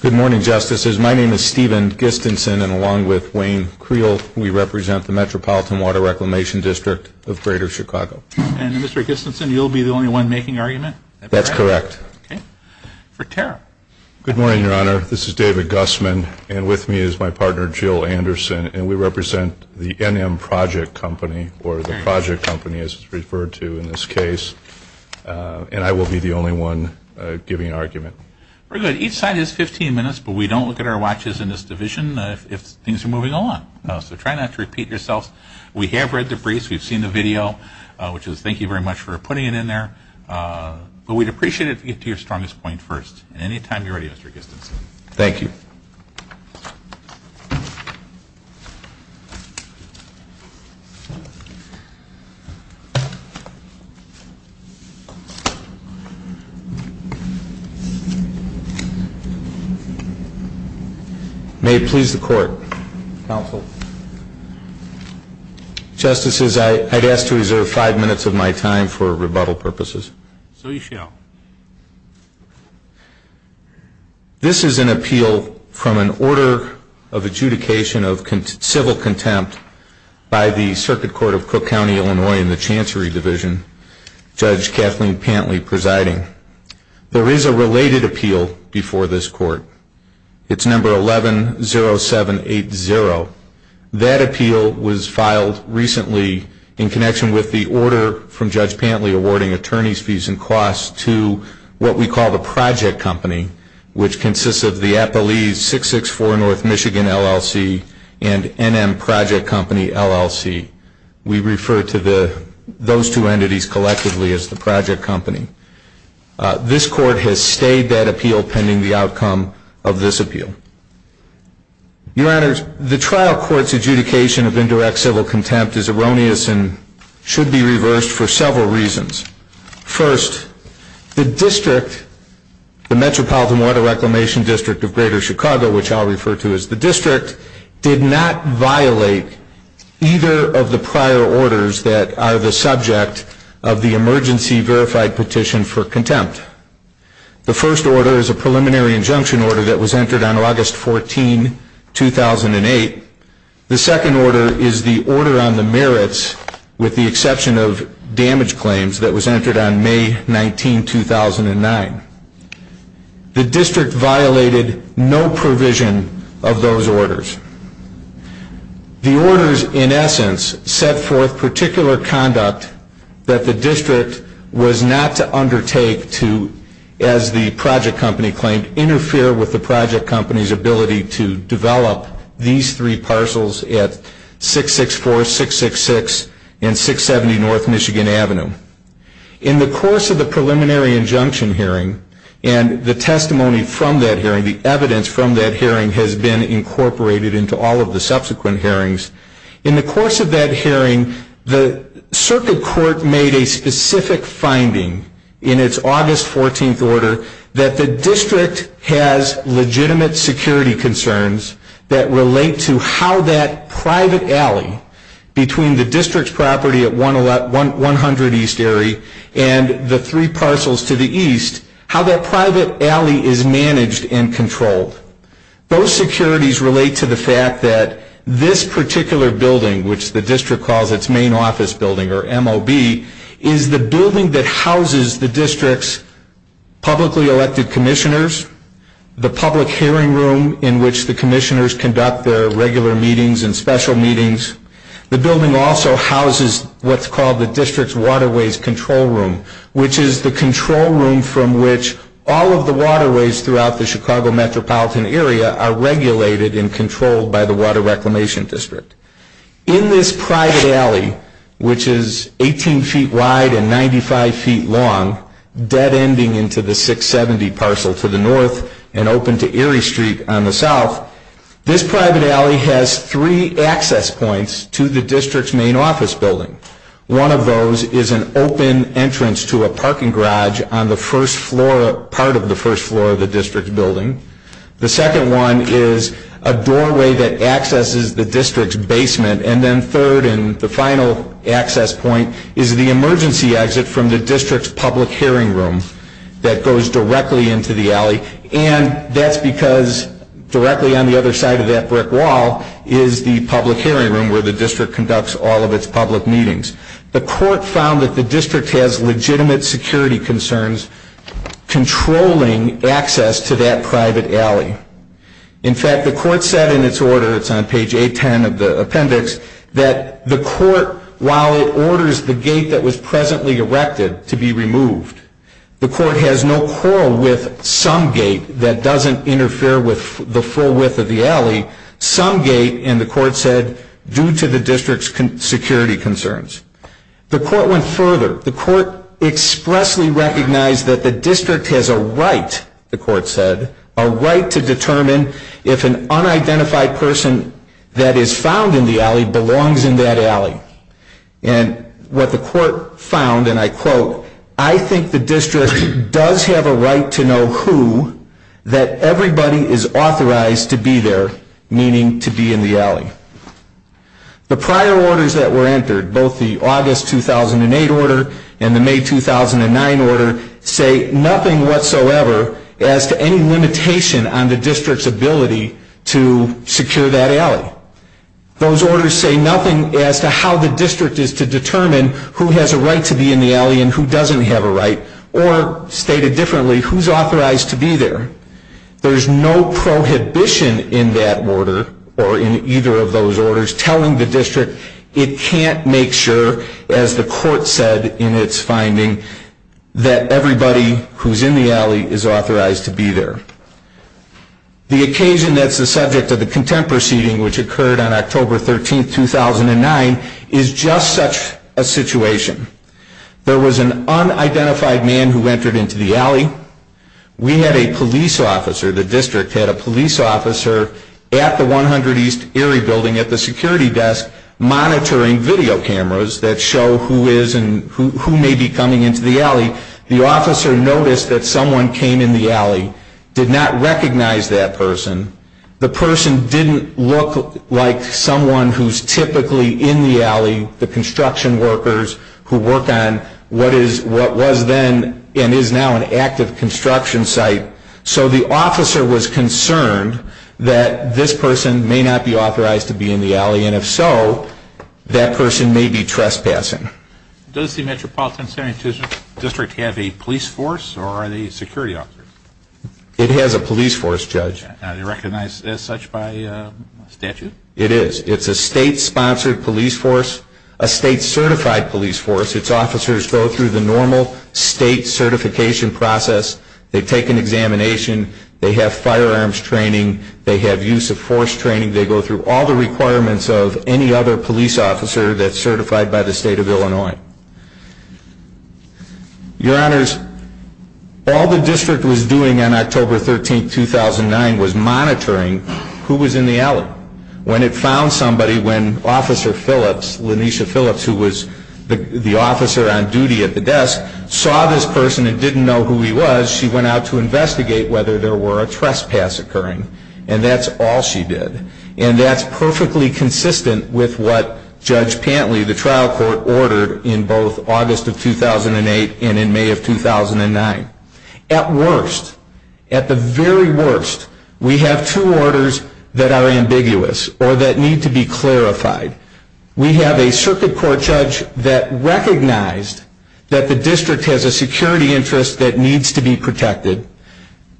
Good morning, Justices. My name is Stephen Gistenson, and along with Wayne Creel, we represent the Metropolitan Water Reclamation District of Greater Chicago. And Mr. Gistenson, you'll be the only one making argument? That's correct. Okay. For Terra. Good morning, Your Honor. This is David Gussman, and with me is my partner, Jill Anderson, and we represent the NM Project Company, or the Project Company, as it's referred to in this case, and I will be the only one giving argument. Very good. Each side has 15 minutes, but we don't look at our watches in this division if things are moving along, so try not to repeat yourselves. We have read the briefs. We've seen the video, which is thank you very much for putting it in there, but we'd appreciate it if you could get to your strongest point first, and anytime you're ready, Mr. Gistenson. Thank you. May it please the Court, counsel. Justices, I'd ask to reserve five minutes of my time for rebuttal purposes. So you shall. This is an appeal from an order of adjudication of civil contempt by the Circuit Court of Cook County, Illinois, in the Chancery Division, Judge Kathleen Pantley presiding. There is a related appeal before this Court. It's number 110780. That appeal was filed recently in connection with the order from Judge Pantley awarding attorneys fees and costs to what we call the project company, which consists of the Appalese 664 North Michigan LLC and NM Project Company LLC. We refer to those two entities collectively as the project company. This Court has stayed that appeal pending the outcome of this appeal. Your Honors, the trial court's adjudication of indirect civil contempt is erroneous and should be reversed for several reasons. First, the district, the Metropolitan Water Reclamation District of Greater Chicago, which I'll refer to as the district, did not violate either of the prior orders that are the subject of the emergency verified petition for contempt. The first order is a preliminary injunction order that was entered on August 14, 2008. The second order is the order on the merits with the exception of damage claims that was entered on May 19, 2009. The district violated no provision of those orders. The orders, in essence, set forth particular conduct that the district was not to undertake to, as the project company claimed, interfere with the project company's ability to develop these three parcels at 664, 666, and 670 North Michigan Avenue. In the course of the preliminary injunction hearing and the testimony from that hearing, the evidence from that hearing has been incorporated into all of the subsequent hearings. In the course of that hearing, the circuit court made a specific finding in its August 14th order that the district has legitimate security concerns that relate to how that private alley between the district's property at 100 East Erie and the three parcels to the east, how that private alley is managed and controlled. Those securities relate to the fact that this particular building, which the district calls its main office building, or MOB, is the building that houses the district's publicly elected commissioners, the public hearing room in which the commissioners conduct their regular meetings and special meetings. The building also houses what's called the district's waterways control room, which is the control room from which all of the waterways throughout the Chicago metropolitan area are regulated and controlled by the Water Reclamation District. In this private alley, which is 18 feet wide and 95 feet long, dead-ending into the 670 parcel to the north and open to Erie Street on the south, this private alley has three access points to the district's main office building. One of those is an open entrance to a parking garage on the first floor, part of the first floor of the district building. The second one is a doorway that accesses the district's basement. And then third, and the final access point, is the emergency exit from the district's public hearing room that goes directly into the alley. And that's because directly on the other side of that brick wall is the public hearing room where the district conducts all of its public meetings. The court found that the district has legitimate security concerns controlling access to that private alley. In fact, the court said in its order, it's on page 810 of the appendix, that the court, while it orders the gate that was presently erected to be removed, the court has no quarrel with some gate that doesn't interfere with the full width of the alley, some gate, and the court said, due to the district's security concerns. The court went further. The court expressly recognized that the district has a right, the court said, a right to determine if an unidentified person that is found in the alley belongs in that alley. And what the court found, and I quote, I think the district does have a right to know who, that everybody is authorized to be there, meaning to be in the alley. The prior orders that were entered, both the August 2008 order and the May 2009 order, say nothing whatsoever as to any limitation on the district's ability to secure that alley. Those orders say nothing as to how the district is to determine who has a right to be in the alley and who doesn't have a right, or stated differently, who's authorized to be there. There's no prohibition in that order, or in either of those orders, telling the district it can't make sure, as the court said in its finding, that everybody who's in the alley is authorized to be there. The occasion that's the subject of the contempt proceeding, which occurred on October 13, 2009, is just such a situation. We had a police officer, the district had a police officer at the 100 East Erie building at the security desk monitoring video cameras that show who is and who may be coming into the alley. The officer noticed that someone came in the alley, did not recognize that person. The person didn't look like someone who's typically in the alley, the construction site. So the officer was concerned that this person may not be authorized to be in the alley, and if so, that person may be trespassing. Does the Metropolitan Sanitation District have a police force or are they security officers? It has a police force, Judge. Are they recognized as such by statute? It is. It's a state-sponsored police force, a state-certified police force. Its officers go through the normal state certification process. They take an examination. They have firearms training. They have use of force training. They go through all the requirements of any other police officer that's certified by the state of Illinois. Your Honors, all the district was doing on October 13, 2009, was monitoring who was in the alley. When it found somebody, when Officer Phillips, Lanisha Phillips, who was the officer on duty at the desk, saw this person and didn't know who he was, she went out to investigate whether there were a trespass occurring. And that's all she did. And that's perfectly consistent with what Judge Pantley, the trial court, ordered in both August of 2008 and in May of 2009. At worst, at the very worst, we have two orders that are ambiguous or that need to be clarified. We have a circuit court judge that recognized that the district has a security interest that needs to be protected.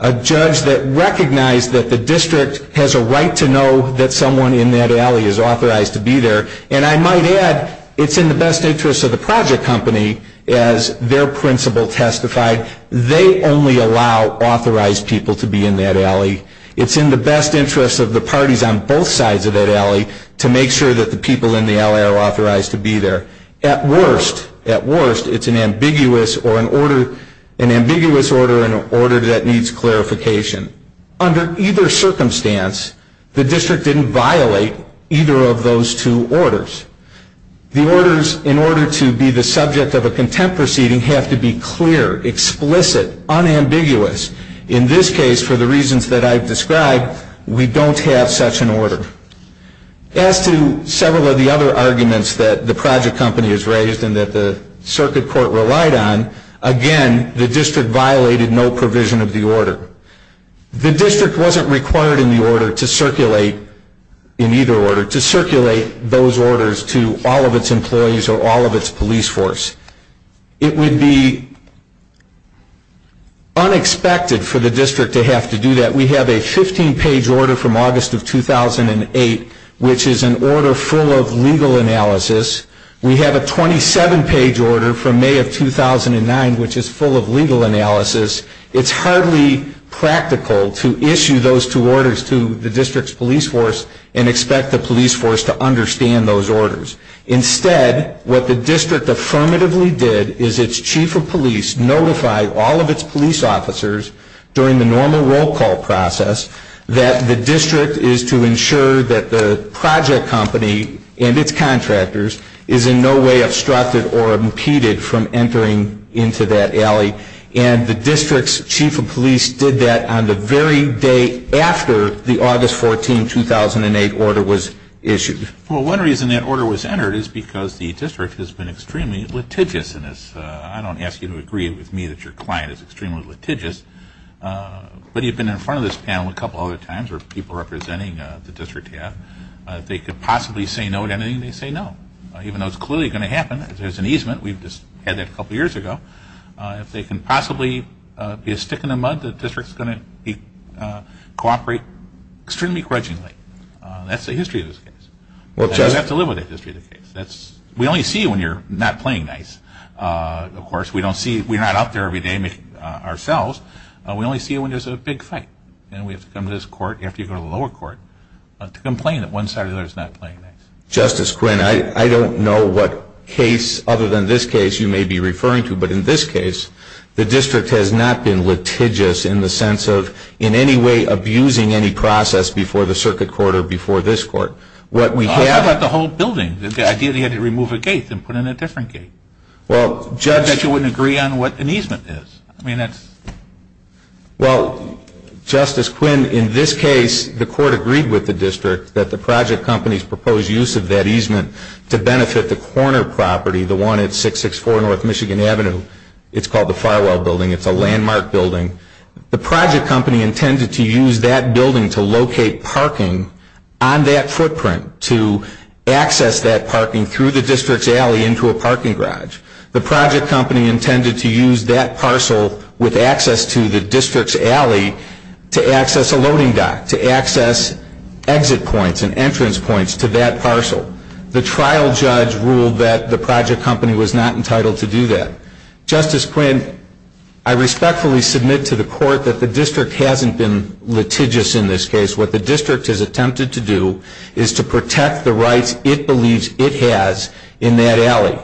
A judge that recognized that the district has a right to know that someone in that alley is authorized to be there. And I might add, it's in the best interest of the project company as their principal testified. They only allow authorized people to be in that alley. It's in the best interest of the parties on both sides of that alley to make sure that the people in the alley are authorized to be there. At worst, at worst, it's an ambiguous order that needs clarification. Under either circumstance, the district didn't violate either of those two orders. The orders, in order to be the subject of a contempt proceeding, have to be clear, explicit, unambiguous. In this case, for the reasons that I've described, we don't have such an order. As to several of the other arguments that the project company has raised and that the circuit court relied on, again, the district violated no provision of the order. The district wasn't required in the order to circulate, in either order, to circulate those orders to all of its employees or all of its police force. It would be unexpected for the district to have to do that. We have a 15-page order from August of 2008, which is an order full of legal analysis. We have a 27-page order from May of 2009, which is full of legal analysis. It's hardly practical to issue those two orders to the district's police force and expect the police force to understand those orders. Instead, what the district affirmatively did is its chief of police notified all of its police officers during the normal roll call process that the district is to ensure that the project company and its contractors is in no way obstructed or impeded from entering into that alley. And the district's chief of police did that on the very day after the August 14, 2008 order was issued. Well, one reason that order was entered is because the district has been extremely litigious in this. I don't ask you to agree with me that your client is extremely litigious. But you've been in front of this panel a couple other times where people representing the district have. If they could possibly say no to anything, they say no. Even though it's clearly going to happen, there's an easement. We've just had that a couple years ago. If they can possibly be a stick in the mud, the district's going to cooperate extremely grudgingly. That's the history of this case. You have to live with the history of the case. We only see it when you're not playing nice. Of course, we're not out there every day ourselves. We only see it when there's a big fight. And we have to come to this court, you have to go to the lower court, to complain that one side or the other is not playing nice. Justice Quinn, I don't know what case other than this case you may be referring to. But in this case, the district has not been litigious in the sense of in any way abusing any process before the circuit court or before this court. What we have... How about the whole building? The idea that you had to remove a gate and put in a different gate? Well, Judge... I bet you wouldn't agree on what an easement is. I mean, that's... Well, Justice Quinn, in this case, the court agreed with the district that the project company's proposed use of that easement to benefit the corner property, the one at 664 North Michigan Avenue. It's called the Firewall Building. It's a landmark building. The project company intended to use that building to locate parking on that footprint, to access that parking through the district's alley into a parking garage. The project company intended to use that parcel with access to the district's alley to access a loading dock, to access exit points and entrance points to that parcel. The trial judge ruled that the project company was not entitled to do that. Justice Quinn, I respectfully submit to the court that the district hasn't been litigious in this case. What the district has attempted to do is to protect the rights it believes it has in that alley.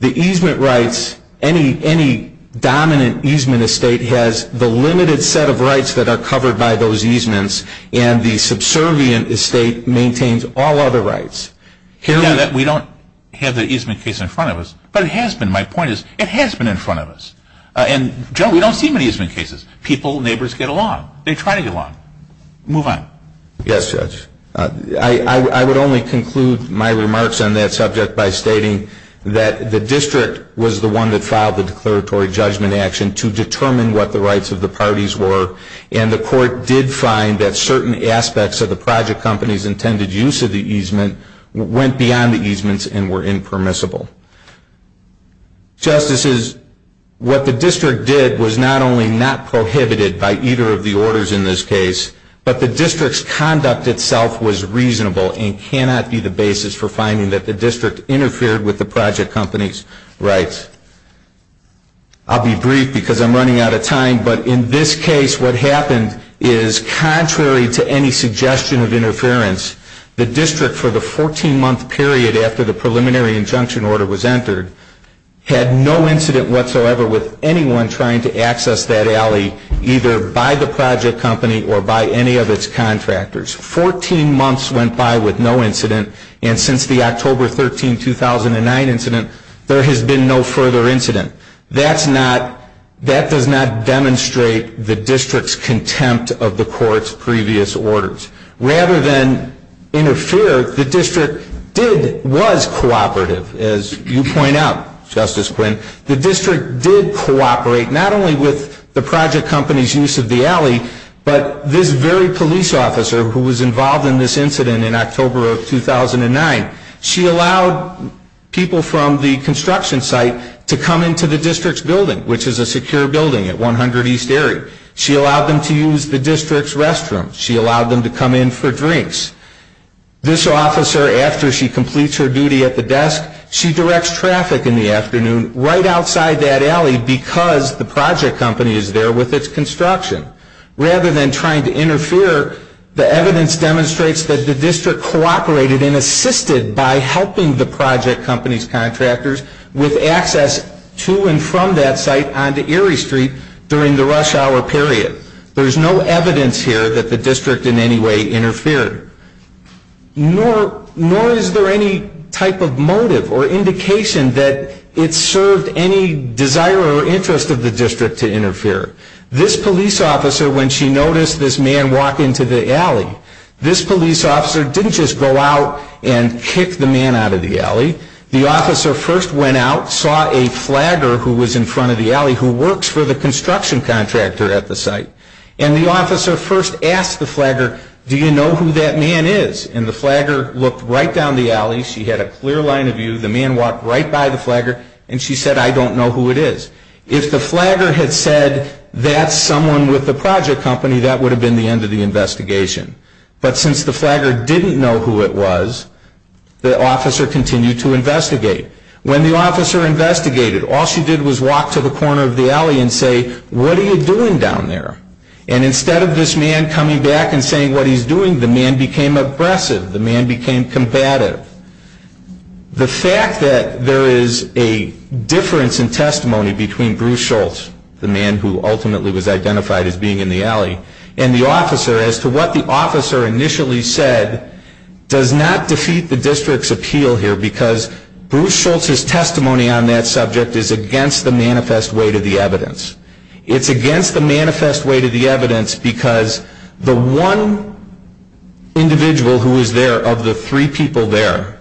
The easement rights... Any dominant easement estate has the limited set of rights that are covered by those easements, and the subservient estate maintains all other rights. Hearing that, we don't have the easement case in front of us, but it has been. My point is, it has been in front of us. And, Joe, we don't see many easement cases. People, neighbors get along. They try to get along. Move on. Yes, Judge. I would only conclude my remarks on that subject by stating that the district was the one that filed the declaratory judgment action to determine what the rights of the parties were, and the court did find that certain aspects of the project company's intended use of the easement went beyond the easements and were impermissible. Justices, what the district did was not only not prohibited by either of the orders in this case, but the district's conduct itself was reasonable and cannot be the basis for finding that the district interfered with the project company's rights. I'll be brief because I'm running out of time, but in this case, what happened is, contrary to any suggestion of interference, the district, for the 14-month period after the preliminary injunction order was entered, had no incident whatsoever with anyone trying to access that alley, either by the project company or by any of its contractors. Fourteen months went by with no incident, and since the October 13, 2009 incident, there has been no further incident. That does not demonstrate the district's contempt of the court's previous orders. Rather than interfere, the district did, was cooperative, as you point out, Justice Quinn. The district did cooperate, not only with the project company's use of the alley, but this very police officer who was involved in this incident in October of 2009, she allowed people from the construction site to come into the district's building, which is a secure building at 100 East Erie. She allowed them to use the district's restroom. She allowed them to come in for drinks. This officer, after she completes her duty at the desk, she directs traffic in the afternoon right outside that alley because the project company is there with its construction. Rather than trying to interfere, the evidence demonstrates that the district cooperated and assisted by helping the project company's contractors with access to and from that site onto Erie Street during the rush hour period. There's no evidence here that the district in any way interfered, nor is there any type of motive or indication that it served any desire or interest of the district to interfere. This police officer, when she noticed this man walk into the alley, this police officer didn't just go out and kick the man out of the alley. The officer first went out, saw a flagger who was in front of the alley who works for the construction contractor at the site, and the officer first asked the flagger, do you know who that man is? And the flagger looked right down the alley. She had a clear line of view. The man walked right by the flagger, and she said, I don't know who it is. If the flagger had said, that's someone with the project company, that would have been the end of the investigation. But since the flagger didn't know who it was, the officer continued to investigate. When the officer investigated, all she did was walk to the corner of the alley and say, what are you doing down there? And instead of this man coming back and saying what he's doing, the man became aggressive. The man became combative. The fact that there is a difference in testimony between Bruce Schultz, the man who ultimately was identified as being in the alley, and the officer, as to what the officer initially said, does not defeat the district's appeal here, because Bruce Schultz's testimony on that subject is against the manifest way to the evidence. It's against the manifest way to the evidence, because the one individual who was there, of the three people there,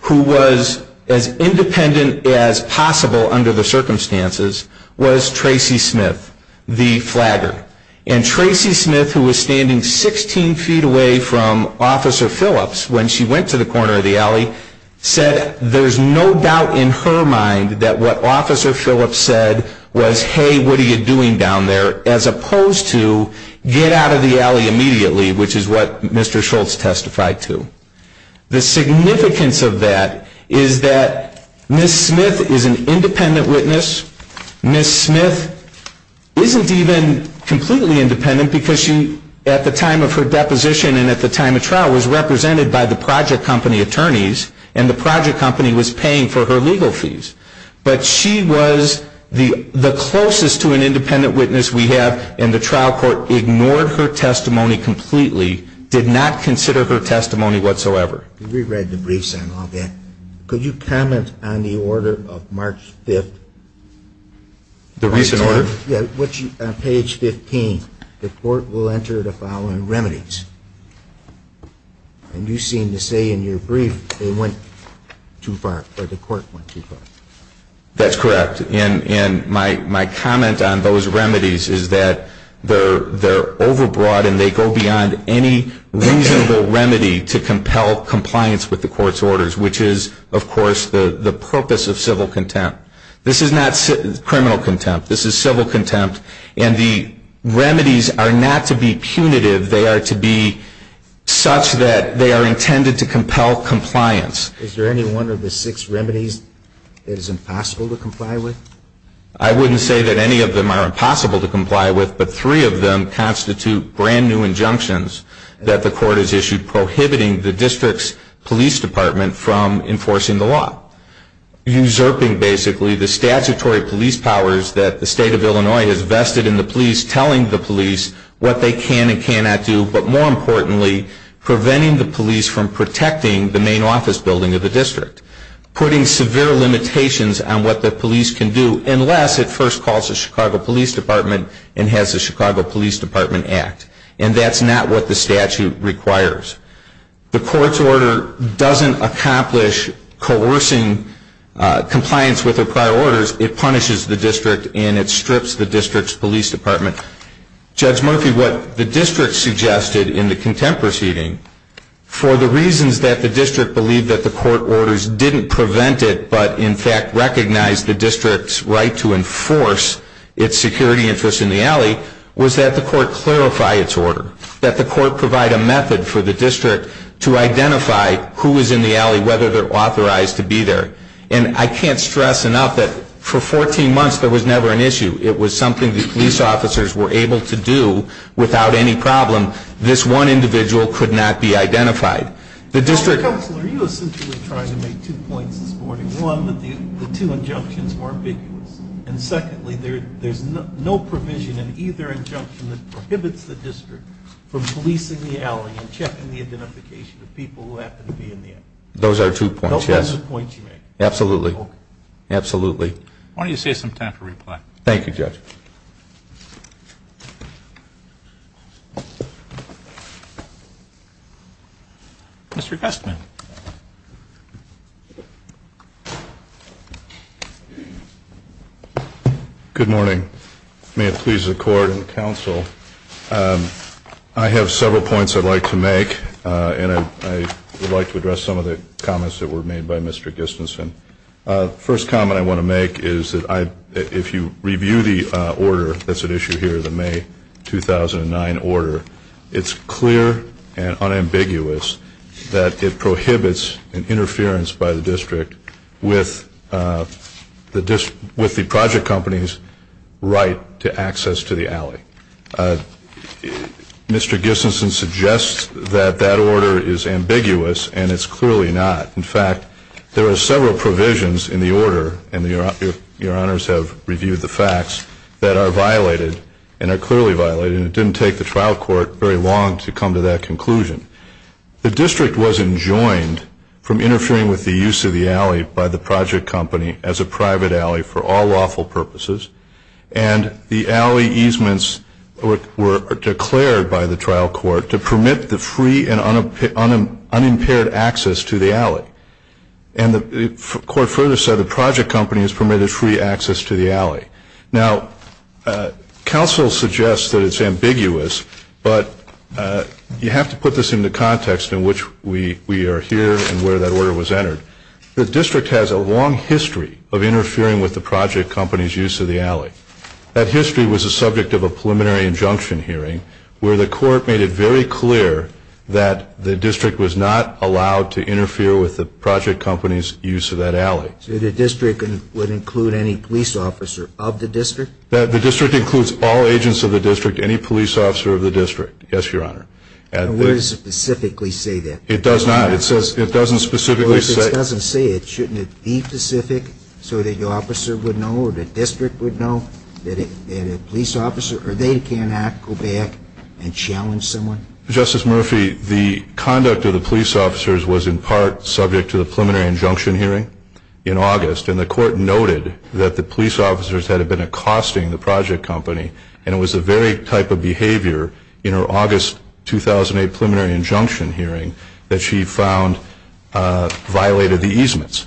who was as independent as possible under the circumstances, was Tracy Smith, the flagger. And Tracy Smith, who was standing 16 feet away from Officer Phillips when she went to the corner of the alley, said there's no doubt in her mind that what Officer Phillips said was, hey, what are you doing down there, as opposed to, get out of the alley immediately, which is what Mr. Schultz testified to. The significance of that is that Ms. Smith is an independent witness. Ms. Smith isn't even completely independent, because at the time of her arrest, she was one of the project company attorneys, and the project company was paying for her legal fees. But she was the closest to an independent witness we have, and the trial court ignored her testimony completely, did not consider her testimony whatsoever. We've read the briefs on all that. Could you comment on the order of March 5th? The recent order? Yeah. On page 15, the court will enter the following remedies. And you seem to say in your brief, they went too far, or the court went too far. That's correct. And my comment on those remedies is that they're overbroad, and they go beyond any reasonable remedy to compel compliance with the court's orders, which is, of course, the purpose of civil contempt. This is not criminal contempt. This is civil contempt. And the remedies are not to be punitive. They are to be such that they are intended to compel compliance. Is there any one of the six remedies that is impossible to comply with? I wouldn't say that any of them are impossible to comply with, but three of them constitute brand new injunctions that the court has issued prohibiting the district's police department from enforcing the law, usurping, basically, the statutory police powers that the state of Illinois has vested in the police, telling the police what they can and cannot do, but more importantly, preventing the police from protecting the main office building of the district, putting severe limitations on what the police can do, unless it first calls the Chicago Police Department and has the Chicago Police Department act. And that's not what the statute requires. The court's order doesn't accomplish coercing compliance with the prior orders, it punishes the district and it strips the district's police department. Judge Murphy, what the district suggested in the contempt proceeding, for the reasons that the district believed that the court orders didn't prevent it, but in fact recognized the district's right to enforce its security interests in the alley, was that the court clarify its order. That the court provide a method for the district to identify who is in the alley, whether they're authorized to be there. And I can't stress enough that for 14 months, there was never an issue. It was something the police officers were able to do without any problem. This one individual could not be identified. The district- Are you essentially trying to make two points this morning? One, that the two injunctions were ambiguous. And secondly, there's no provision in either injunction that prohibits the district from policing the alley and checking the identification of people who happen to be in the alley. Those are two points, yes. Those are two points you make? Absolutely. Okay. Absolutely. Why don't you save some time for reply? Thank you, Judge. Mr. Guestman. Good morning. May it please the Court and the Council. I have several points I'd like to make, and I would like to address some of the comments that were made by Mr. Gistenson. First comment I want to make is that if you review the order that's at issue here, the May 2009 order, it's clear and unambiguous that it prohibits an interference by the district with the project company's right to access to the alley. Mr. Gistenson suggests that that order is ambiguous, and it's clearly not. In fact, there are several provisions in the order, and your Honors have reviewed the facts, that are violated and are clearly violated, and it didn't take the trial court very long to come to that conclusion. The district wasn't joined from interfering with the use of the alley by the project company as a private alley for all lawful purposes, and the alley easements were declared by the trial court to permit the free and unimpaired access to the alley. And the court further said the project company is permitted free access to the alley. Now, counsel suggests that it's ambiguous, but you have to put this into context in which we are here and where that order was entered. The district has a long history of interfering with the project company's use of the alley. That history was the subject of a preliminary injunction hearing, where the court made it very clear that the district was not allowed to interfere with the project company's use of that alley. So the district would include any police officer of the district? The district includes all agents of the district, any police officer of the district. Yes, your Honor. And where does it specifically say that? It does not. It doesn't specifically say it. Well, if it doesn't say it, shouldn't it be specific so that your officer would know or the district would know that a police officer or they cannot go back and challenge someone? Justice Murphy, the conduct of the police officers was in part subject to the preliminary injunction hearing in August, and the court noted that the police officers had been accosting the project company, and it was the very type of behavior in her August 2008 preliminary injunction hearing that she found violated the easements.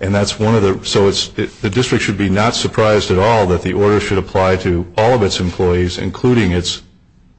And that's one of the, so the district should be not surprised at all that the order should apply to all of its employees, including its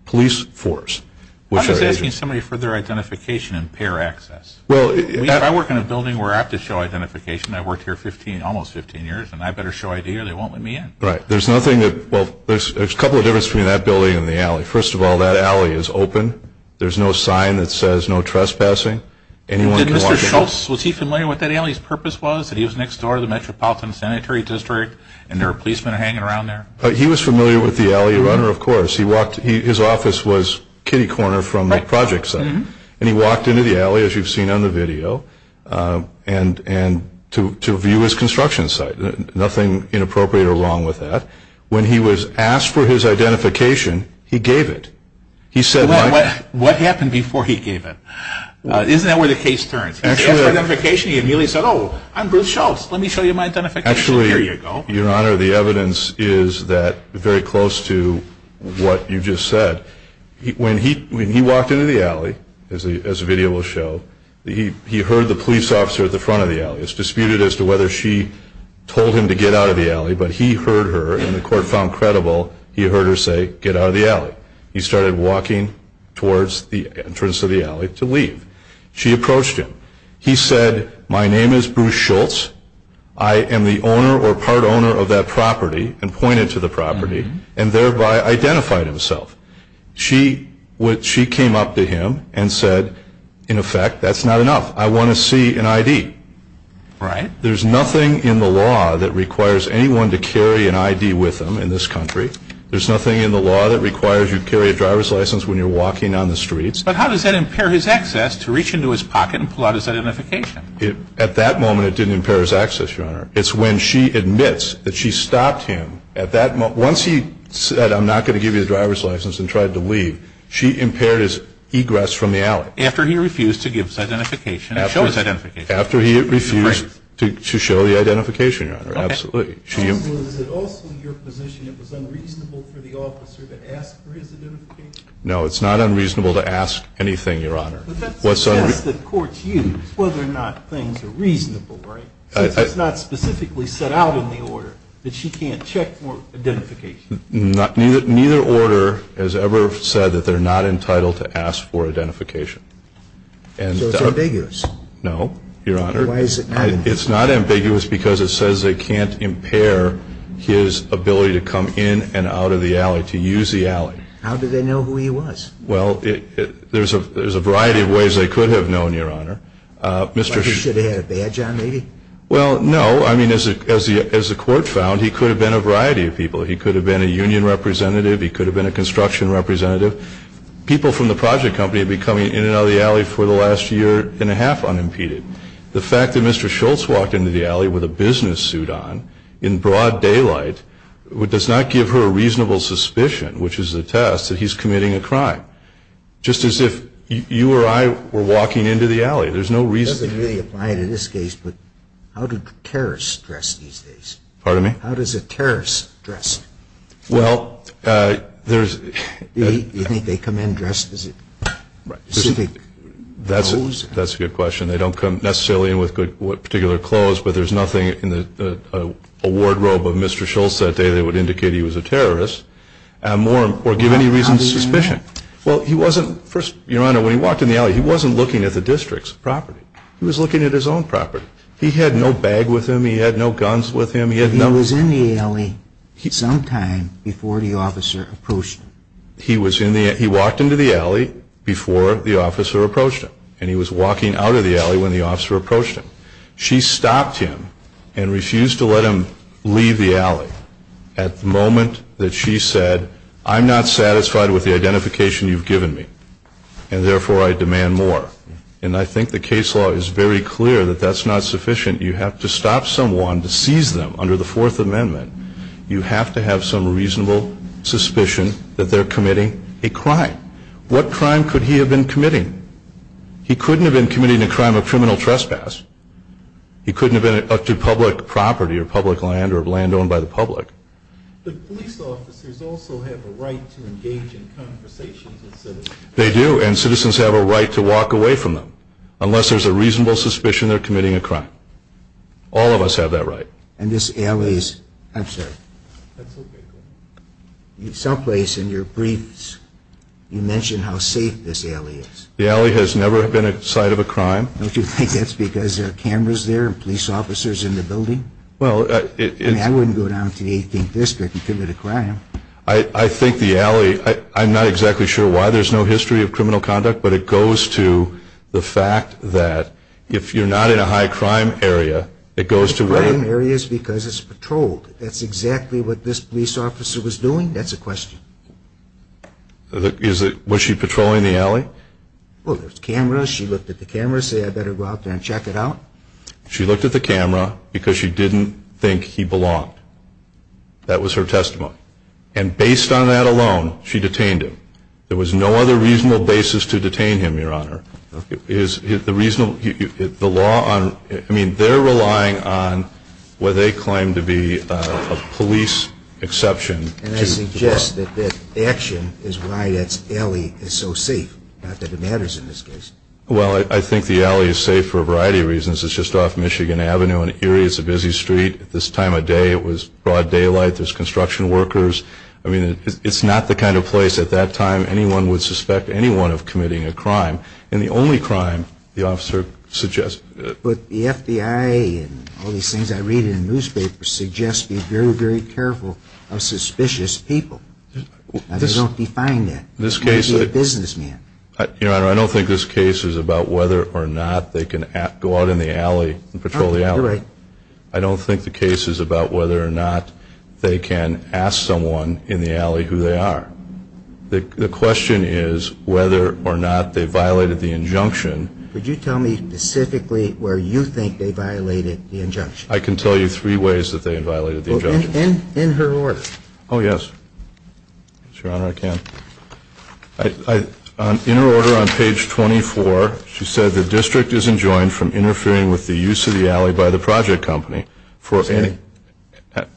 police force, which are agents. I'm just asking somebody for their identification and pair access. Well... If I work in a building where I have to show identification, I've worked here 15, almost 15 years, and I better show ID or they won't let me in. Right. There's nothing that, well, there's a couple of differences between that building and the alley. First of all, that alley is open. There's no sign that says no trespassing. Anyone can walk in. Mr. Schultz, was he familiar with what that alley's purpose was, that he was next door to the Metropolitan Sanitary District and there were policemen hanging around there? He was familiar with the alley runner, of course. He walked, his office was kitty corner from the project site, and he walked into the alley, as you've seen on the video, and to view his construction site. Nothing inappropriate or wrong with that. When he was asked for his identification, he gave it. He said... Well, what happened before he gave it? Isn't that where the case turns? He asked for identification, he immediately said, oh, I'm Bruce Schultz. Let me show you my identification. Actually, your honor, the evidence is that very close to what you just said. When he walked into the alley, as the video will show, he heard the police officer at the front of the alley. It's disputed as to whether she told him to get out of the alley, but he heard her and the court found credible, he heard her say, get out of the alley. He started walking towards the entrance of the alley to leave. She approached him. He said, my name is Bruce Schultz. I am the owner or part owner of that property, and pointed to the property, and thereby identified himself. She came up to him and said, in effect, that's not enough. I want to see an ID. There's nothing in the law that requires anyone to carry an ID with them in this country. There's nothing in the law that requires you carry a driver's license when you're walking on the streets. But how does that impair his access to reach into his pocket and pull out his identification? At that moment, it didn't impair his access, your honor. It's when she admits that she stopped him at that moment. Once he said, I'm not going to give you the driver's license and tried to leave, she impaired his egress from the alley. After he refused to give his identification and show his identification. After he refused to show the identification, your honor, absolutely. So is it also your position it was unreasonable for the officer to ask for his identification? No, it's not unreasonable to ask anything, your honor. But that's the test that courts use, whether or not things are reasonable, right? Since it's not specifically set out in the order that she can't check for identification. Neither order has ever said that they're not entitled to ask for So it's ambiguous? No, your honor. Why is it not ambiguous? It's not ambiguous because it says they can't impair his ability to come in and out of the alley, to use the alley. How do they know who he was? Well, there's a variety of ways they could have known, your honor. But he should have had a badge on, maybe? Well, no. I mean, as the court found, he could have been a variety of people. He could have been a union representative. He could have been a construction representative. People from the project company have been coming in and out of the alley for the last year and a half unimpeded. The fact that Mr. Schultz walked into the alley with a business suit on in broad daylight does not give her a reasonable suspicion, which is a test that he's committing a crime. Just as if you or I were walking into the alley. There's no reason. It doesn't really apply to this case, but how do terrorists dress these days? Pardon me? How does a terrorist dress? Well, there's- You think they come in dressed as a pacific? That's a good question. They don't necessarily come in with particular clothes, but there's nothing in the award robe of Mr. Schultz that day that would indicate he was a terrorist, or give any reason to suspicion. Well, he wasn't, first, your honor, when he walked in the alley, he wasn't looking at the district's property. He was looking at his own property. He had no bag with him. He had no guns with him. He had no- He was in the alley sometime before the officer approached him. He was in the, he walked into the alley before the officer approached him. And he was walking out of the alley when the officer approached him. She stopped him and refused to let him leave the alley at the moment that she said, I'm not satisfied with the identification you've given me. And therefore, I demand more. And I think the case law is very clear that that's not sufficient. You have to stop someone to seize them under the Fourth Amendment. What crime could he have been committing? He couldn't have been committing a crime of criminal trespass. He couldn't have been up to public property or public land or land owned by the public. But police officers also have a right to engage in conversations with citizens. They do, and citizens have a right to walk away from them, unless there's a reasonable suspicion they're committing a crime. All of us have that right. And this alley's, I'm sorry. That's okay, go ahead. In some place in your briefs, you mentioned how safe this alley is. The alley has never been a site of a crime. Don't you think that's because there are cameras there and police officers in the building? Well, it's- I mean, I wouldn't go down to the 18th district and commit a crime. I think the alley, I'm not exactly sure why there's no history of criminal conduct, but it goes to the fact that if you're not in a high crime area, it goes to whether- Crime areas because it's patrolled. That's exactly what this police officer was doing? That's a question. Is it, was she patrolling the alley? Well, there's cameras. She looked at the cameras, said I better go out there and check it out. She looked at the camera because she didn't think he belonged. That was her testimony. And based on that alone, she detained him. There was no other reasonable basis to detain him, your honor. Is the reasonable, the law on, I mean, they're relying on what they claim to be a police exception. And I suggest that that action is why that alley is so safe. Not that it matters in this case. Well, I think the alley is safe for a variety of reasons. It's just off Michigan Avenue in Erie. It's a busy street. At this time of day, it was broad daylight. There's construction workers. I mean, it's not the kind of place at that time anyone would suspect anyone of committing a crime, and the only crime the officer suggests. But the FBI and all these things I read in the newspaper suggest be very, very careful of suspicious people. Now, they don't define that. This case is a businessman. Your honor, I don't think this case is about whether or not they can go out in the alley and patrol the alley. You're right. I don't think the case is about whether or not they can ask someone in the alley who they are. The question is whether or not they violated the injunction. Would you tell me specifically where you think they violated the injunction? I can tell you three ways that they violated the injunction. In her order. Yes, it's your honor, I can. In her order on page 24, she said the district is enjoined from interfering with the use of the alley by the project company for any,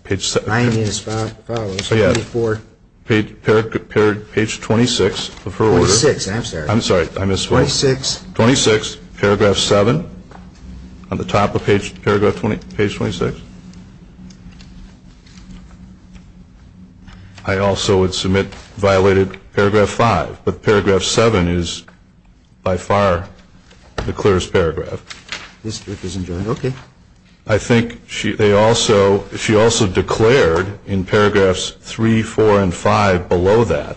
page 7. I mean as follows, 24. Page 26 of her order. 26, I'm sorry. I'm sorry, I missed one. 26. Paragraph 7, on the top of page, paragraph 20, page 26. I also would submit violated paragraph 5, but paragraph 7 is by far the clearest paragraph. District is enjoined, okay. I think she, they also, she also declared in paragraphs 3, 4, and 5 below that.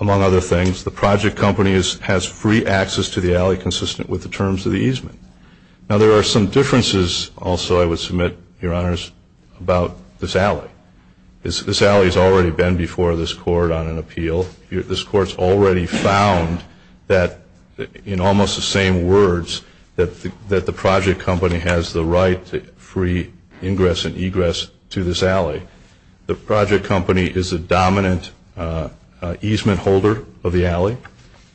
Among other things, the project company is, has free access to the alley consistent with the terms of the easement. Now there are some differences, also I would submit, your honors, about this alley. This, this alley's already been before this court on an appeal. You're, this court's already found that, in almost the same words, that, that the project company has the right to free ingress and egress to this alley. The project company is a dominant easement holder of the alley.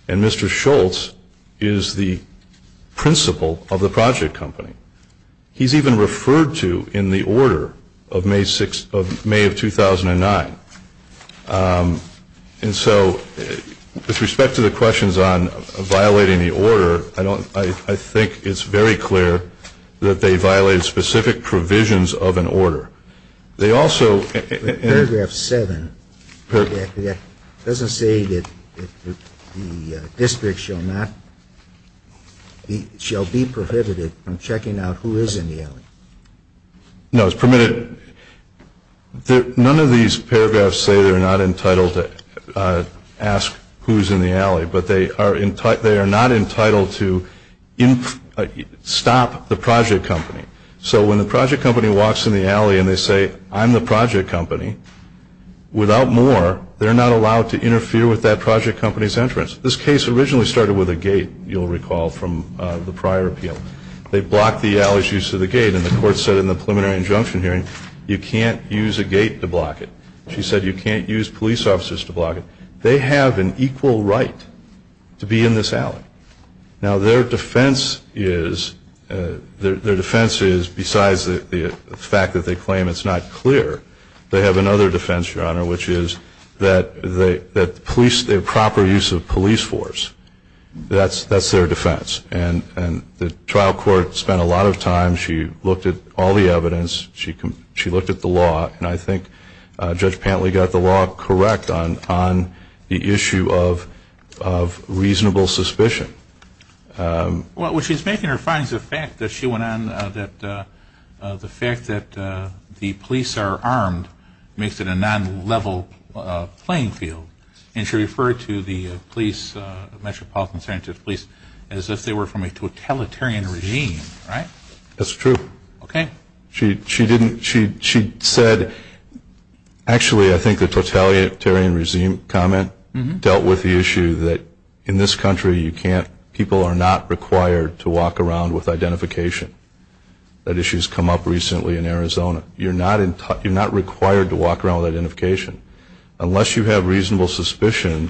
And Mr. Schultz is the principal of the project company. He's even referred to in the order of May 6th, of May of 2009. And so, with respect to the questions on violating the order, I don't, I, I think it's very clear that they violated specific provisions of an order. They also- Paragraph 7, that doesn't say that the district shall not, shall be prohibited from checking out who is in the alley. No, it's permitted, none of these paragraphs say they're not entitled to ask who's in the alley, but they are, they are not entitled to in, stop the project company. So when the project company walks in the alley and they say, I'm the project company, without more, they're not allowed to interfere with that project company's entrance. This case originally started with a gate, you'll recall from the prior appeal. They blocked the alley's use of the gate, and the court said in the preliminary injunction hearing, you can't use a gate to block it. She said you can't use police officers to block it. They have an equal right to be in this alley. Now their defense is, their defense is, besides the fact that they claim it's not clear. They have another defense, your honor, which is that the police, the proper use of police force, that's, that's their defense. And, and the trial court spent a lot of time, she looked at all the evidence, she, she looked at the law, and I think Judge Pantley got the law correct on, on the issue of, of reasonable suspicion. Well, what she's making here finds the fact that she went on that the fact that the police are armed makes it a non-level playing field. And she referred to the police, Metropolitan Sanctuary Police, as if they were from a totalitarian regime, right? That's true. Okay. She, she didn't, she, she said, actually, I think the totalitarian regime comment dealt with the issue that in this country, you can't, people are not required to walk around with identification. That issue's come up recently in Arizona. You're not in, you're not required to walk around with identification. Unless you have reasonable suspicion,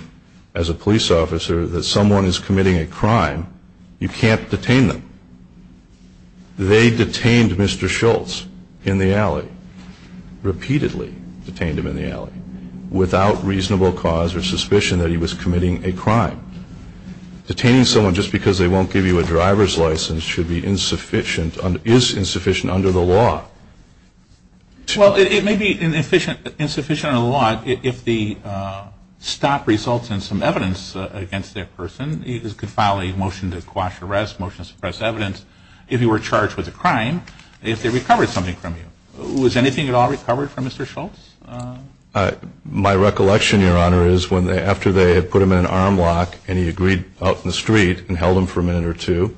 as a police officer, that someone is committing a crime, you can't detain them. They detained Mr. Schultz in the alley. Repeatedly detained him in the alley. Without reasonable cause or suspicion that he was committing a crime. Detaining someone just because they won't give you a driver's license should be insufficient, is insufficient under the law. Well, it, it may be an efficient, insufficient under the law if, if the stop results in some evidence against that person. You could file a motion to quash arrest, motion to suppress evidence, if you were charged with a crime, if they recovered something from you. Was anything at all recovered from Mr. Schultz? My recollection, your honor, is when they, after they had put him in an arm lock, and he agreed out in the street, and held him for a minute or two.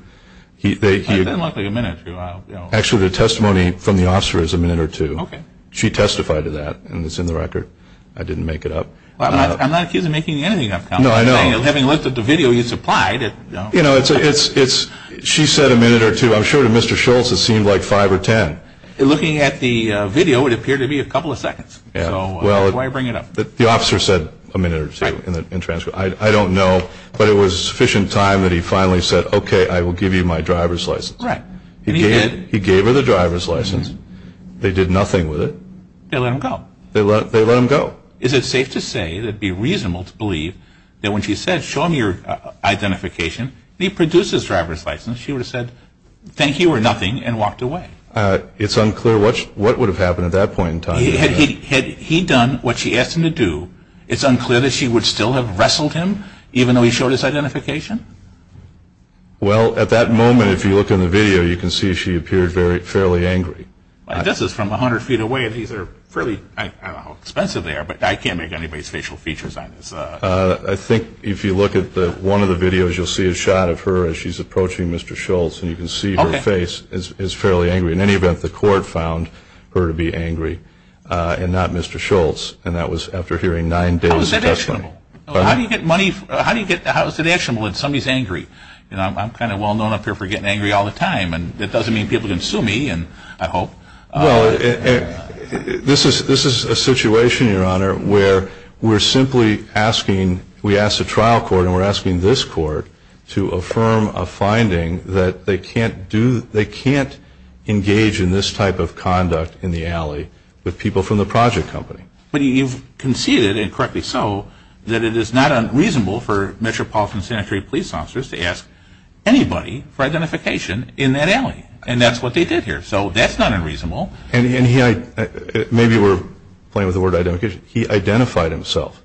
He, they, he. It doesn't look like a minute or two. Actually, the testimony from the officer is a minute or two. Okay. She testified to that, and it's in the record. I didn't make it up. I'm not, I'm not accused of making anything up. No, I know. Having looked at the video you supplied. You know, it's, it's, it's, she said a minute or two. I'm sure to Mr. Schultz, it seemed like five or ten. Looking at the video, it appeared to be a couple of seconds. So, that's why I bring it up. The officer said a minute or two in the, in transcript. I, I don't know, but it was sufficient time that he finally said, okay, I will give you my driver's license. Right. He gave, he gave her the driver's license. They did nothing with it. They let him go. They let, they let him go. Is it safe to say that it'd be reasonable to believe that when she said, show me your identification, he produced his driver's license, she would have said, thank you or nothing, and walked away? It's unclear what, what would have happened at that point in time. Had he, had he done what she asked him to do, it's unclear that she would still have wrestled him, even though he showed his identification? Well, at that moment, if you look in the video, you can see she appeared very, fairly angry. This is from 100 feet away, and these are fairly, I don't know how expensive they are, but I can't make anybody's facial features on this. I think if you look at the, one of the videos, you'll see a shot of her as she's approaching Mr. Schultz, and you can see her face is, is fairly angry. In any event, the court found her to be angry, and not Mr. Schultz, and that was after hearing nine days of testimony. How do you get money, how do you get, how is it actionable when somebody's angry? You know, I'm, I'm kind of well known up here for getting angry all the time, and it doesn't mean people can sue me, and I hope. Well, it, it, this is, this is a situation, Your Honor, where we're simply asking, we asked the trial court, and we're asking this court to affirm a finding that they can't do, they can't engage in this type of conduct in the alley with people from the project company. But you've conceded, and correctly so, that it is not unreasonable for metropolitan sanitary police officers to ask anybody for identification in that alley, and that's what they did here, so that's not unreasonable. And, and he, maybe we're playing with the word identification. He identified himself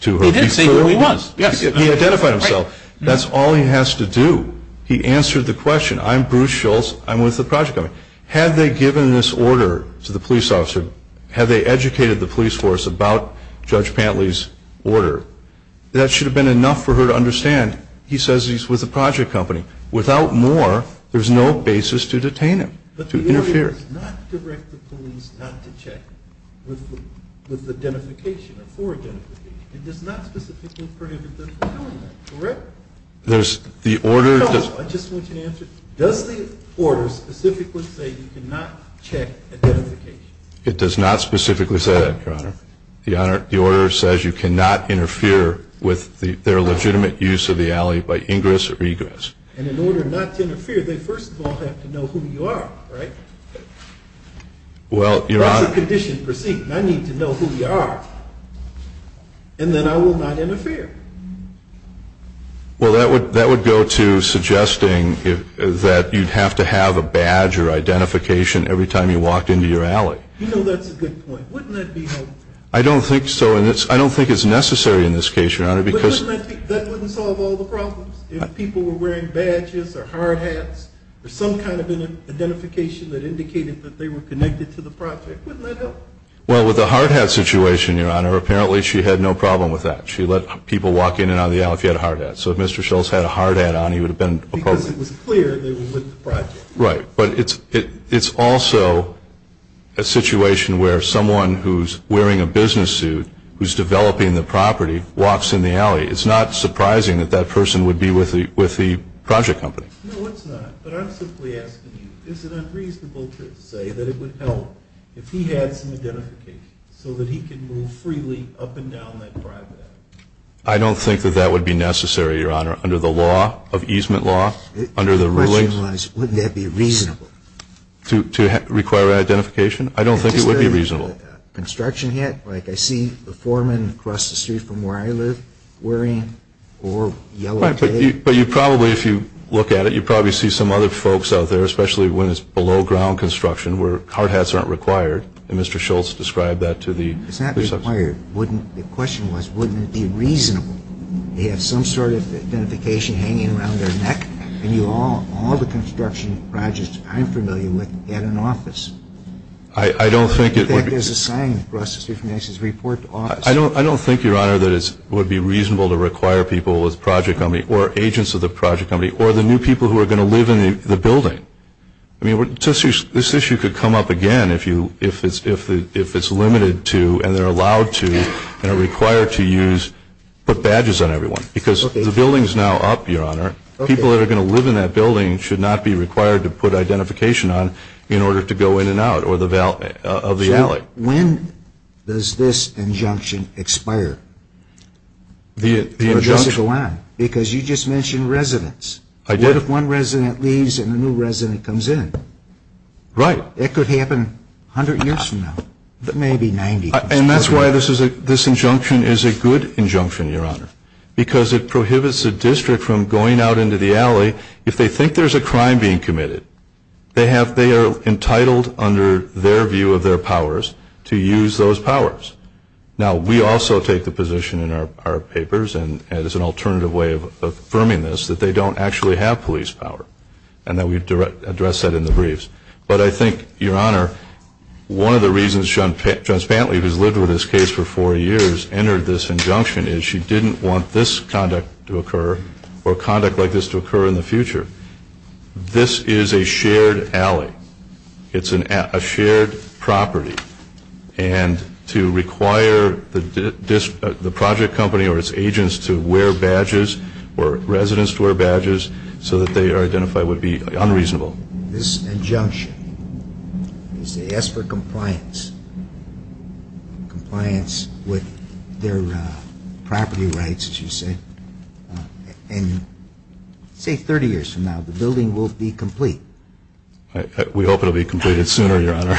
to her. He didn't say who he was. He identified himself. That's all he has to do. He answered the question. I'm Bruce Schultz, I'm with the project company. Had they given this order to the police officer, had they educated the police force about Judge Pantley's order, that should have been enough for her to understand. He says he's with the project company. Without more, there's no basis to detain him, to interfere. The order does not direct the police not to check with the identification, or for identification. It does not specifically prohibit them from doing that, correct? There's the order- No, I just want you to answer. Does the order specifically say you cannot check identification? It does not specifically say that, your honor. The honor, the order says you cannot interfere with the, their legitimate use of the alley by ingress or egress. And in order not to interfere, they first of all have to know who you are, right? Well, your honor- That's a condition proceeding. I need to know who you are, and then I will not interfere. Well, that would go to suggesting that you'd have to have a badge or identification every time you walked into your alley. You know that's a good point. Wouldn't that be helpful? I don't think so, and I don't think it's necessary in this case, your honor, because- But wouldn't that solve all the problems? If people were wearing badges, or hard hats, or some kind of an identification that indicated that they were connected to the project, wouldn't that help? Well, with the hard hat situation, your honor, apparently she had no problem with that. She let people walk in and out of the alley if you had a hard hat. So if Mr. Schultz had a hard hat on, he would have been- Because it was clear they were with the project. Right, but it's also a situation where someone who's wearing a business suit, who's developing the property, walks in the alley. It's not surprising that that person would be with the project company. No, it's not, but I'm simply asking you, is it unreasonable to say that it would help if he had some identification, so that he could move freely up and down that driveway? I don't think that that would be necessary, your honor, under the law of easement law, under the ruling- The question was, wouldn't that be reasonable? To require identification? I don't think it would be reasonable. Construction hat, like I see the foreman across the street from where I live wearing, or yellow tape. But you probably, if you look at it, you probably see some other folks out there, especially when it's below ground construction, where hard hats aren't required, and Mr. Schultz described that to the- It's not required. The question was, wouldn't it be reasonable? They have some sort of identification hanging around their neck, and all the construction projects I'm familiar with had an office. I don't think it would be- In fact, there's a sign across the street from here that says, report to office. I don't think, your honor, that it would be reasonable to require people with a project company, or agents of the project company, or the new people who are going to live in the building. I mean, this issue could come up again if it's limited to, and they're allowed to, and are required to use, put badges on everyone. Because the building's now up, your honor, people that are going to live in that building should not be required to put identification on in order to go in and out of the alley. When does this injunction expire? The injunction- Because you just mentioned residents. I did. What if one resident leaves and a new resident comes in? Right. That could happen 100 years from now, maybe 90. And that's why this injunction is a good injunction, your honor. Because it prohibits a district from going out into the alley, if they think there's a crime being committed. They are entitled, under their view of their powers, to use those powers. Now, we also take the position in our papers, and as an alternative way of affirming this, that they don't actually have police power. And that we address that in the briefs. But I think, your honor, one of the reasons John Spantley, who's lived with this case for four years, entered this injunction is she didn't want this conduct to occur, or conduct like this to occur in the future. This is a shared alley. It's a shared property. And to require the project company or its agents to wear badges, or residents to wear badges, so that they are identified would be unreasonable. This injunction is to ask for compliance. Compliance with their property rights, as you say. And say 30 years from now, the building will be complete. We hope it'll be completed sooner, your honor.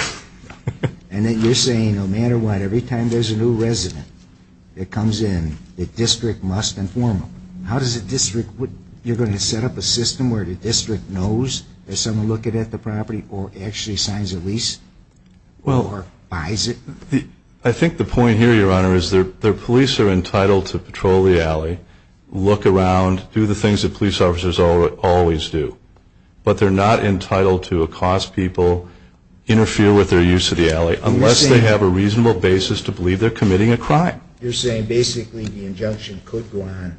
And then you're saying, no matter what, every time there's a new resident that comes in, the district must inform them. How does a district, you're going to set up a system where the district knows that someone looked at the property, or actually signs a lease, or buys it? I think the point here, your honor, is their police are entitled to patrol the alley, look around, do the things that police officers always do. But they're not entitled to accost people, interfere with their use of the alley. Unless they have a reasonable basis to believe they're committing a crime. You're saying, basically, the injunction could go on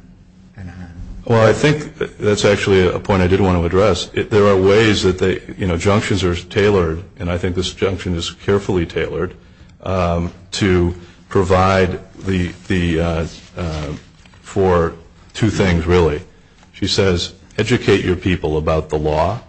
and on. Well, I think that's actually a point I did want to address. There are ways that they, you know, junctions are tailored, and I think this junction is carefully tailored, to provide the, for two things, really. She says, educate your people about the law,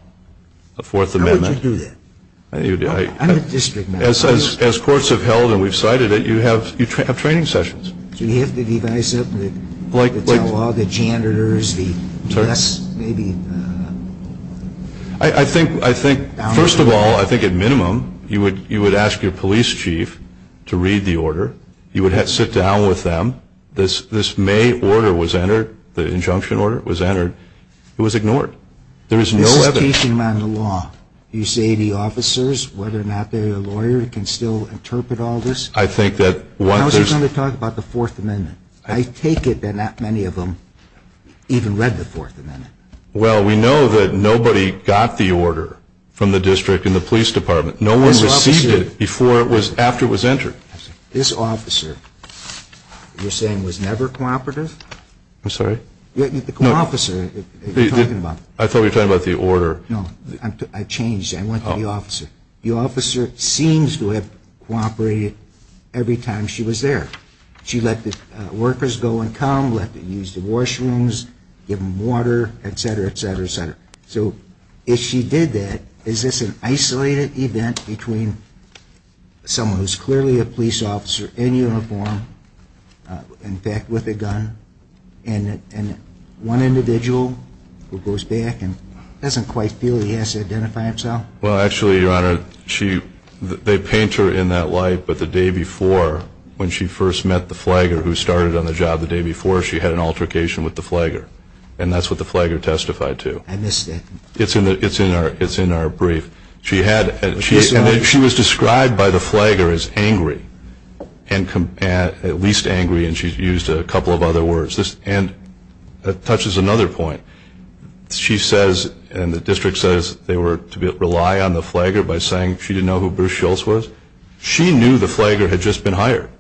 the Fourth Amendment. How would you do that? I'm a district man. As courts have held, and we've cited it, you have training sessions. Do you have to devise it, the telelog, the janitors, the press, maybe? I think, first of all, I think at minimum, you would ask your police chief to read the order. You would sit down with them. This May order was entered, the injunction order was entered. It was ignored. There is no evidence. This is teaching them the law. Do you see any officers, whether or not they're a lawyer, can still interpret all this? I think that one, there's- I was just going to talk about the Fourth Amendment. I take it that not many of them even read the Fourth Amendment. Well, we know that nobody got the order from the district and the police department. No one received it before it was, after it was entered. This officer, you're saying, was never cooperative? I'm sorry? The co-officer, you're talking about. I thought we were talking about the order. No, I changed it. I went to the officer. The officer seems to have cooperated every time she was there. She let the workers go and come, let them use the washrooms, give them water, etc., etc., etc. So if she did that, is this an isolated event between someone who's clearly a police officer in uniform, in fact, with a gun, and one individual who goes back and doesn't quite feel he has to identify himself? Well, actually, Your Honor, she, they paint her in that light. But the day before, when she first met the flagger who started on the job the day before, she had an altercation with the flagger. And that's what the flagger testified to. I missed that. It's in our, it's in our brief. She had, she was described by the flagger as angry, at least angry. And she used a couple of other words. And that touches another point. She says, and the district says, they were to rely on the flagger by saying she didn't know who Bruce Schultz was. She knew the flagger had just been hired.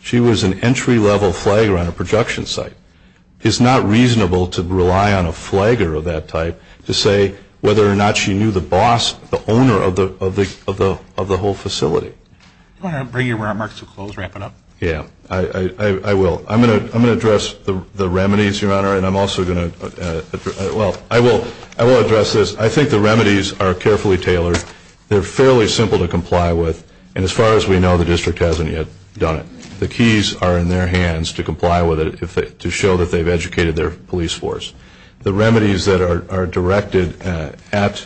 She was an entry-level flagger on a projection site. It's not reasonable to rely on a flagger of that type to say whether or not she knew the boss, the owner of the, of the, of the whole facility. Your Honor, bring your remarks to a close. Wrap it up. Yeah, I, I, I will. I'm going to, I'm going to address the, the remedies, Your Honor. And I'm also going to, well, I will, I will address this. I think the remedies are carefully tailored. They're fairly simple to comply with. And as far as we know, the district hasn't yet done it. The keys are in their hands to comply with it, if they, to show that they've educated their police force. The remedies that are, are directed at,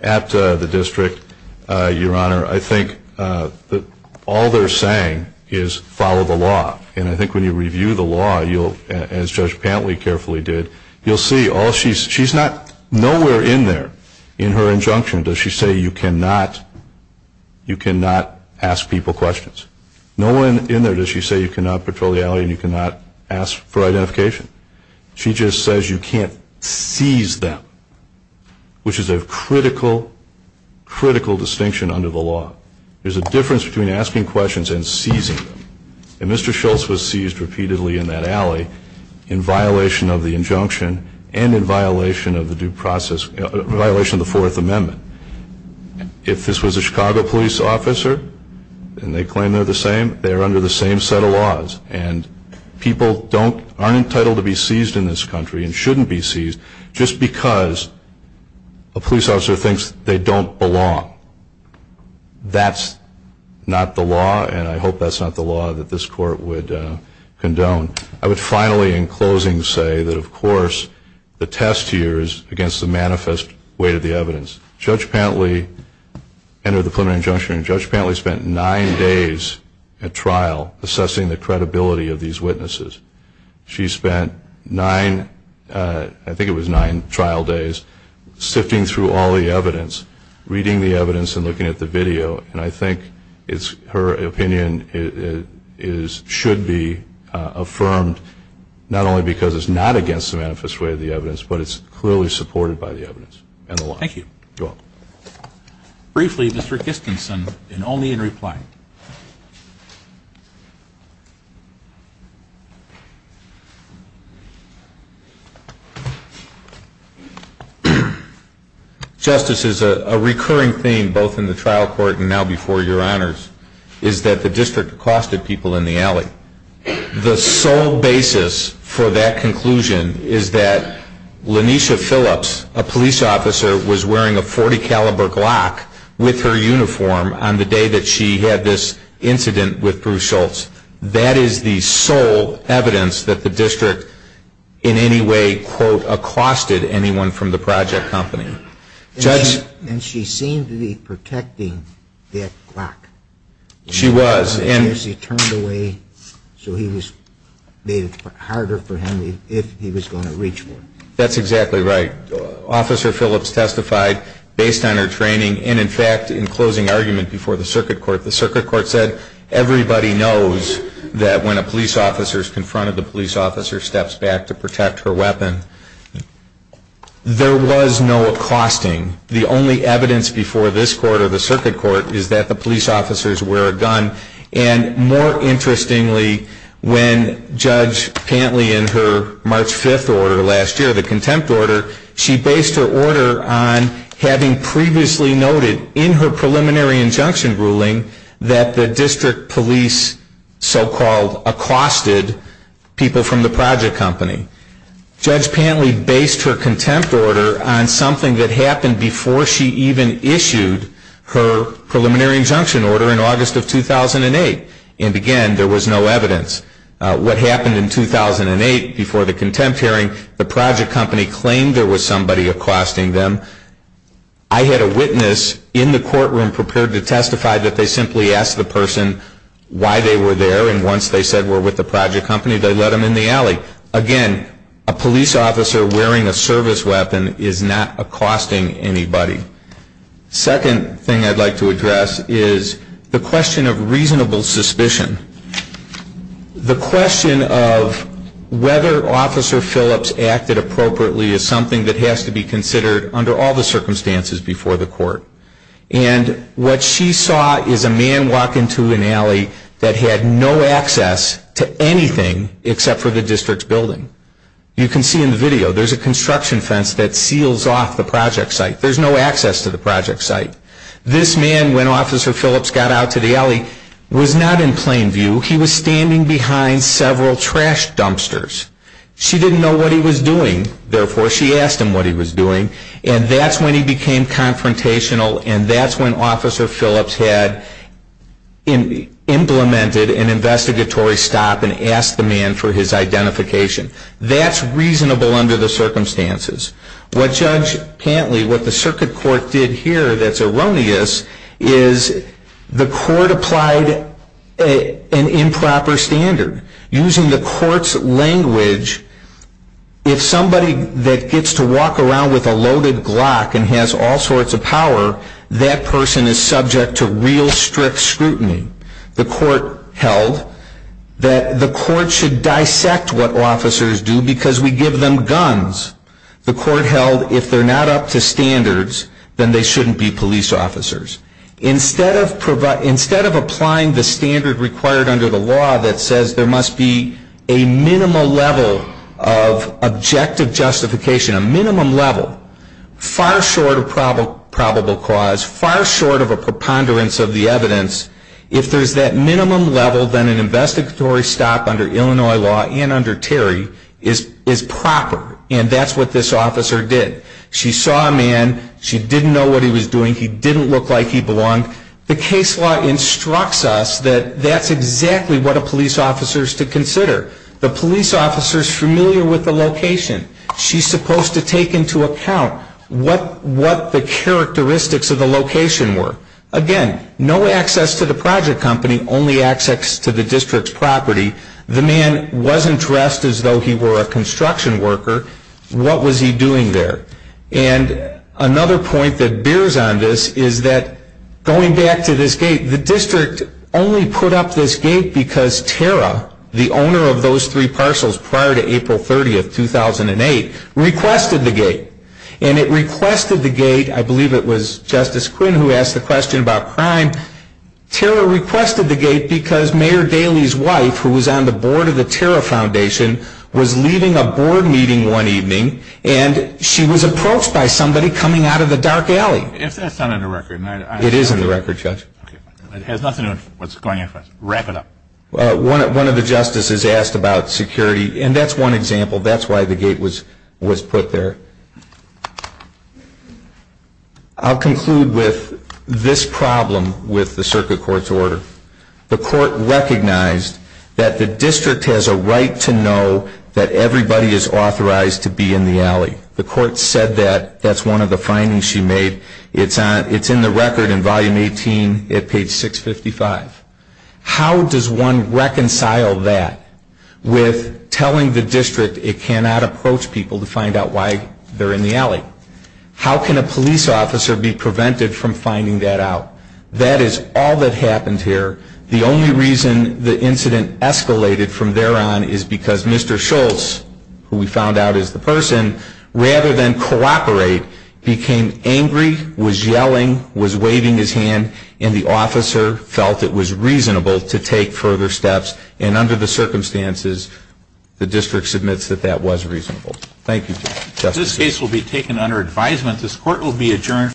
at the district, Your Honor, I think that all they're saying is follow the law. And I think when you review the law, you'll, as Judge Pantley carefully did, you'll see all she's, she's not, nowhere in there in her injunction does she say you cannot, you cannot ask people questions. No one in there does she say you cannot patrol the alley and you cannot ask for identification. She just says you can't seize them, which is a critical, critical distinction under the law. There's a difference between asking questions and seizing them. And Mr. Schultz was seized repeatedly in that alley in violation of the injunction and in violation of the due process, violation of the Fourth Amendment. If this was a Chicago police officer, and they claim they're the same, they're under the same set of laws. And people don't, aren't entitled to be seized in this country and shouldn't be seized just because a police officer thinks they don't belong. That's not the law, and I hope that's not the law that this court would condone. I would finally, in closing, say that, of course, the test here is against the manifest weight of the evidence. Judge Pantley entered the preliminary injunction, and assessing the credibility of these witnesses. She spent nine, I think it was nine trial days, sifting through all the evidence, reading the evidence, and looking at the video. And I think her opinion should be affirmed, not only because it's not against the manifest way of the evidence, but it's clearly supported by the evidence and the law. Thank you. You're welcome. Briefly, Mr. Kistensen, and only in reply. Justice, as a recurring theme, both in the trial court and now before your honors, is that the district accosted people in the alley. The sole basis for that conclusion is that Lanisha Phillips, a police officer, was wearing a .40 caliber Glock with her uniform on the day that she had this incident with Bruce Schultz. That is the sole evidence that the district in any way, quote, accosted anyone from the project company. Judge- And she seemed to be protecting that Glock. She was. And she turned away, so he was made harder for him if he was going to reach for it. That's exactly right. Officer Phillips testified based on her training, and in fact, in closing argument before the circuit court, the circuit court said, everybody knows that when a police officer is confronted, the police officer steps back to protect her weapon. There was no accosting. The only evidence before this court or the circuit court is that the police officers wear a gun. And more interestingly, when Judge Pantley in her March 5th order last year, the contempt order, she based her order on having previously noted in her preliminary injunction ruling that the district police so-called accosted people from the project company. Judge Pantley based her contempt order on something that happened before she even issued her preliminary injunction order in August of 2008. And again, there was no evidence. What happened in 2008 before the contempt hearing, the project company claimed there was somebody accosting them. I had a witness in the courtroom prepared to testify that they simply asked the person why they were there. And once they said we're with the project company, they let them in the alley. Again, a police officer wearing a service weapon is not accosting anybody. Second thing I'd like to address is the question of reasonable suspicion. The question of whether Officer Phillips acted appropriately is something that has to be considered under all the circumstances before the court. And what she saw is a man walk into an alley that had no access to anything except for the district's building. You can see in the video, there's a construction fence that seals off the project site. There's no access to the project site. This man, when Officer Phillips got out to the alley, was not in plain view. He was standing behind several trash dumpsters. She didn't know what he was doing. Therefore, she asked him what he was doing. And that's when he became confrontational. And that's when Officer Phillips had implemented an investigatory stop and asked the man for his identification. That's reasonable under the circumstances. What Judge Pantley, what the circuit court did here that's erroneous is the court applied an improper standard. Using the court's language, if somebody that gets to walk around with a loaded Glock and has all sorts of power, that person is subject to real strict scrutiny. The court held that the court should dissect what officers do because we give them guns. The court held if they're not up to standards, then they shouldn't be police officers. Instead of applying the standard required under the law that says there must be a minimal level of objective justification, a minimum level, far short of probable cause, far short of a preponderance of the evidence, if there's that minimum level, then an investigatory stop under Illinois law and under Terry is proper. And that's what this officer did. She saw a man. She didn't know what he was doing. He didn't look like he belonged. The case law instructs us that that's exactly what a police officer is to consider. The police officer is familiar with the location. She's supposed to take into account what the characteristics of the location were. Again, no access to the project company, only access to the district's property. The man wasn't dressed as though he were a construction worker. What was he doing there? And another point that bears on this is that going back to this gate, the district only put up this gate because Tara, the owner of those three parcels prior to April 30, 2008, requested the gate. And it requested the gate, I believe it was Justice Quinn who asked the question about crime. Tara requested the gate because Mayor Daley's wife, who was on the board of the Tara Foundation, was leading a board meeting one evening. And she was approached by somebody coming out of the dark alley. If that's not on the record. It is on the record, Judge. It has nothing to do with what's going on. Wrap it up. One of the justices asked about security. And that's one example. That's why the gate was put there. I'll conclude with this problem with the circuit court's order. The court recognized that the district has a right to know that everybody is authorized to be in the alley. The court said that. That's one of the findings she made. It's in the record in volume 18 at page 655. How does one reconcile that with telling the district it cannot approach people to find out why they're in the alley? How can a police officer be prevented from finding that out? That is all that happened here. The only reason the incident escalated from there on is because Mr. Schultz, who we found out is the person, rather than cooperate, became angry, was yelling, was waving his hand, and the officer felt it was reasonable to take further steps. And under the circumstances, the district submits that that was reasonable. Thank you, Justice. This case will be taken under advisement. This court will be adjourned.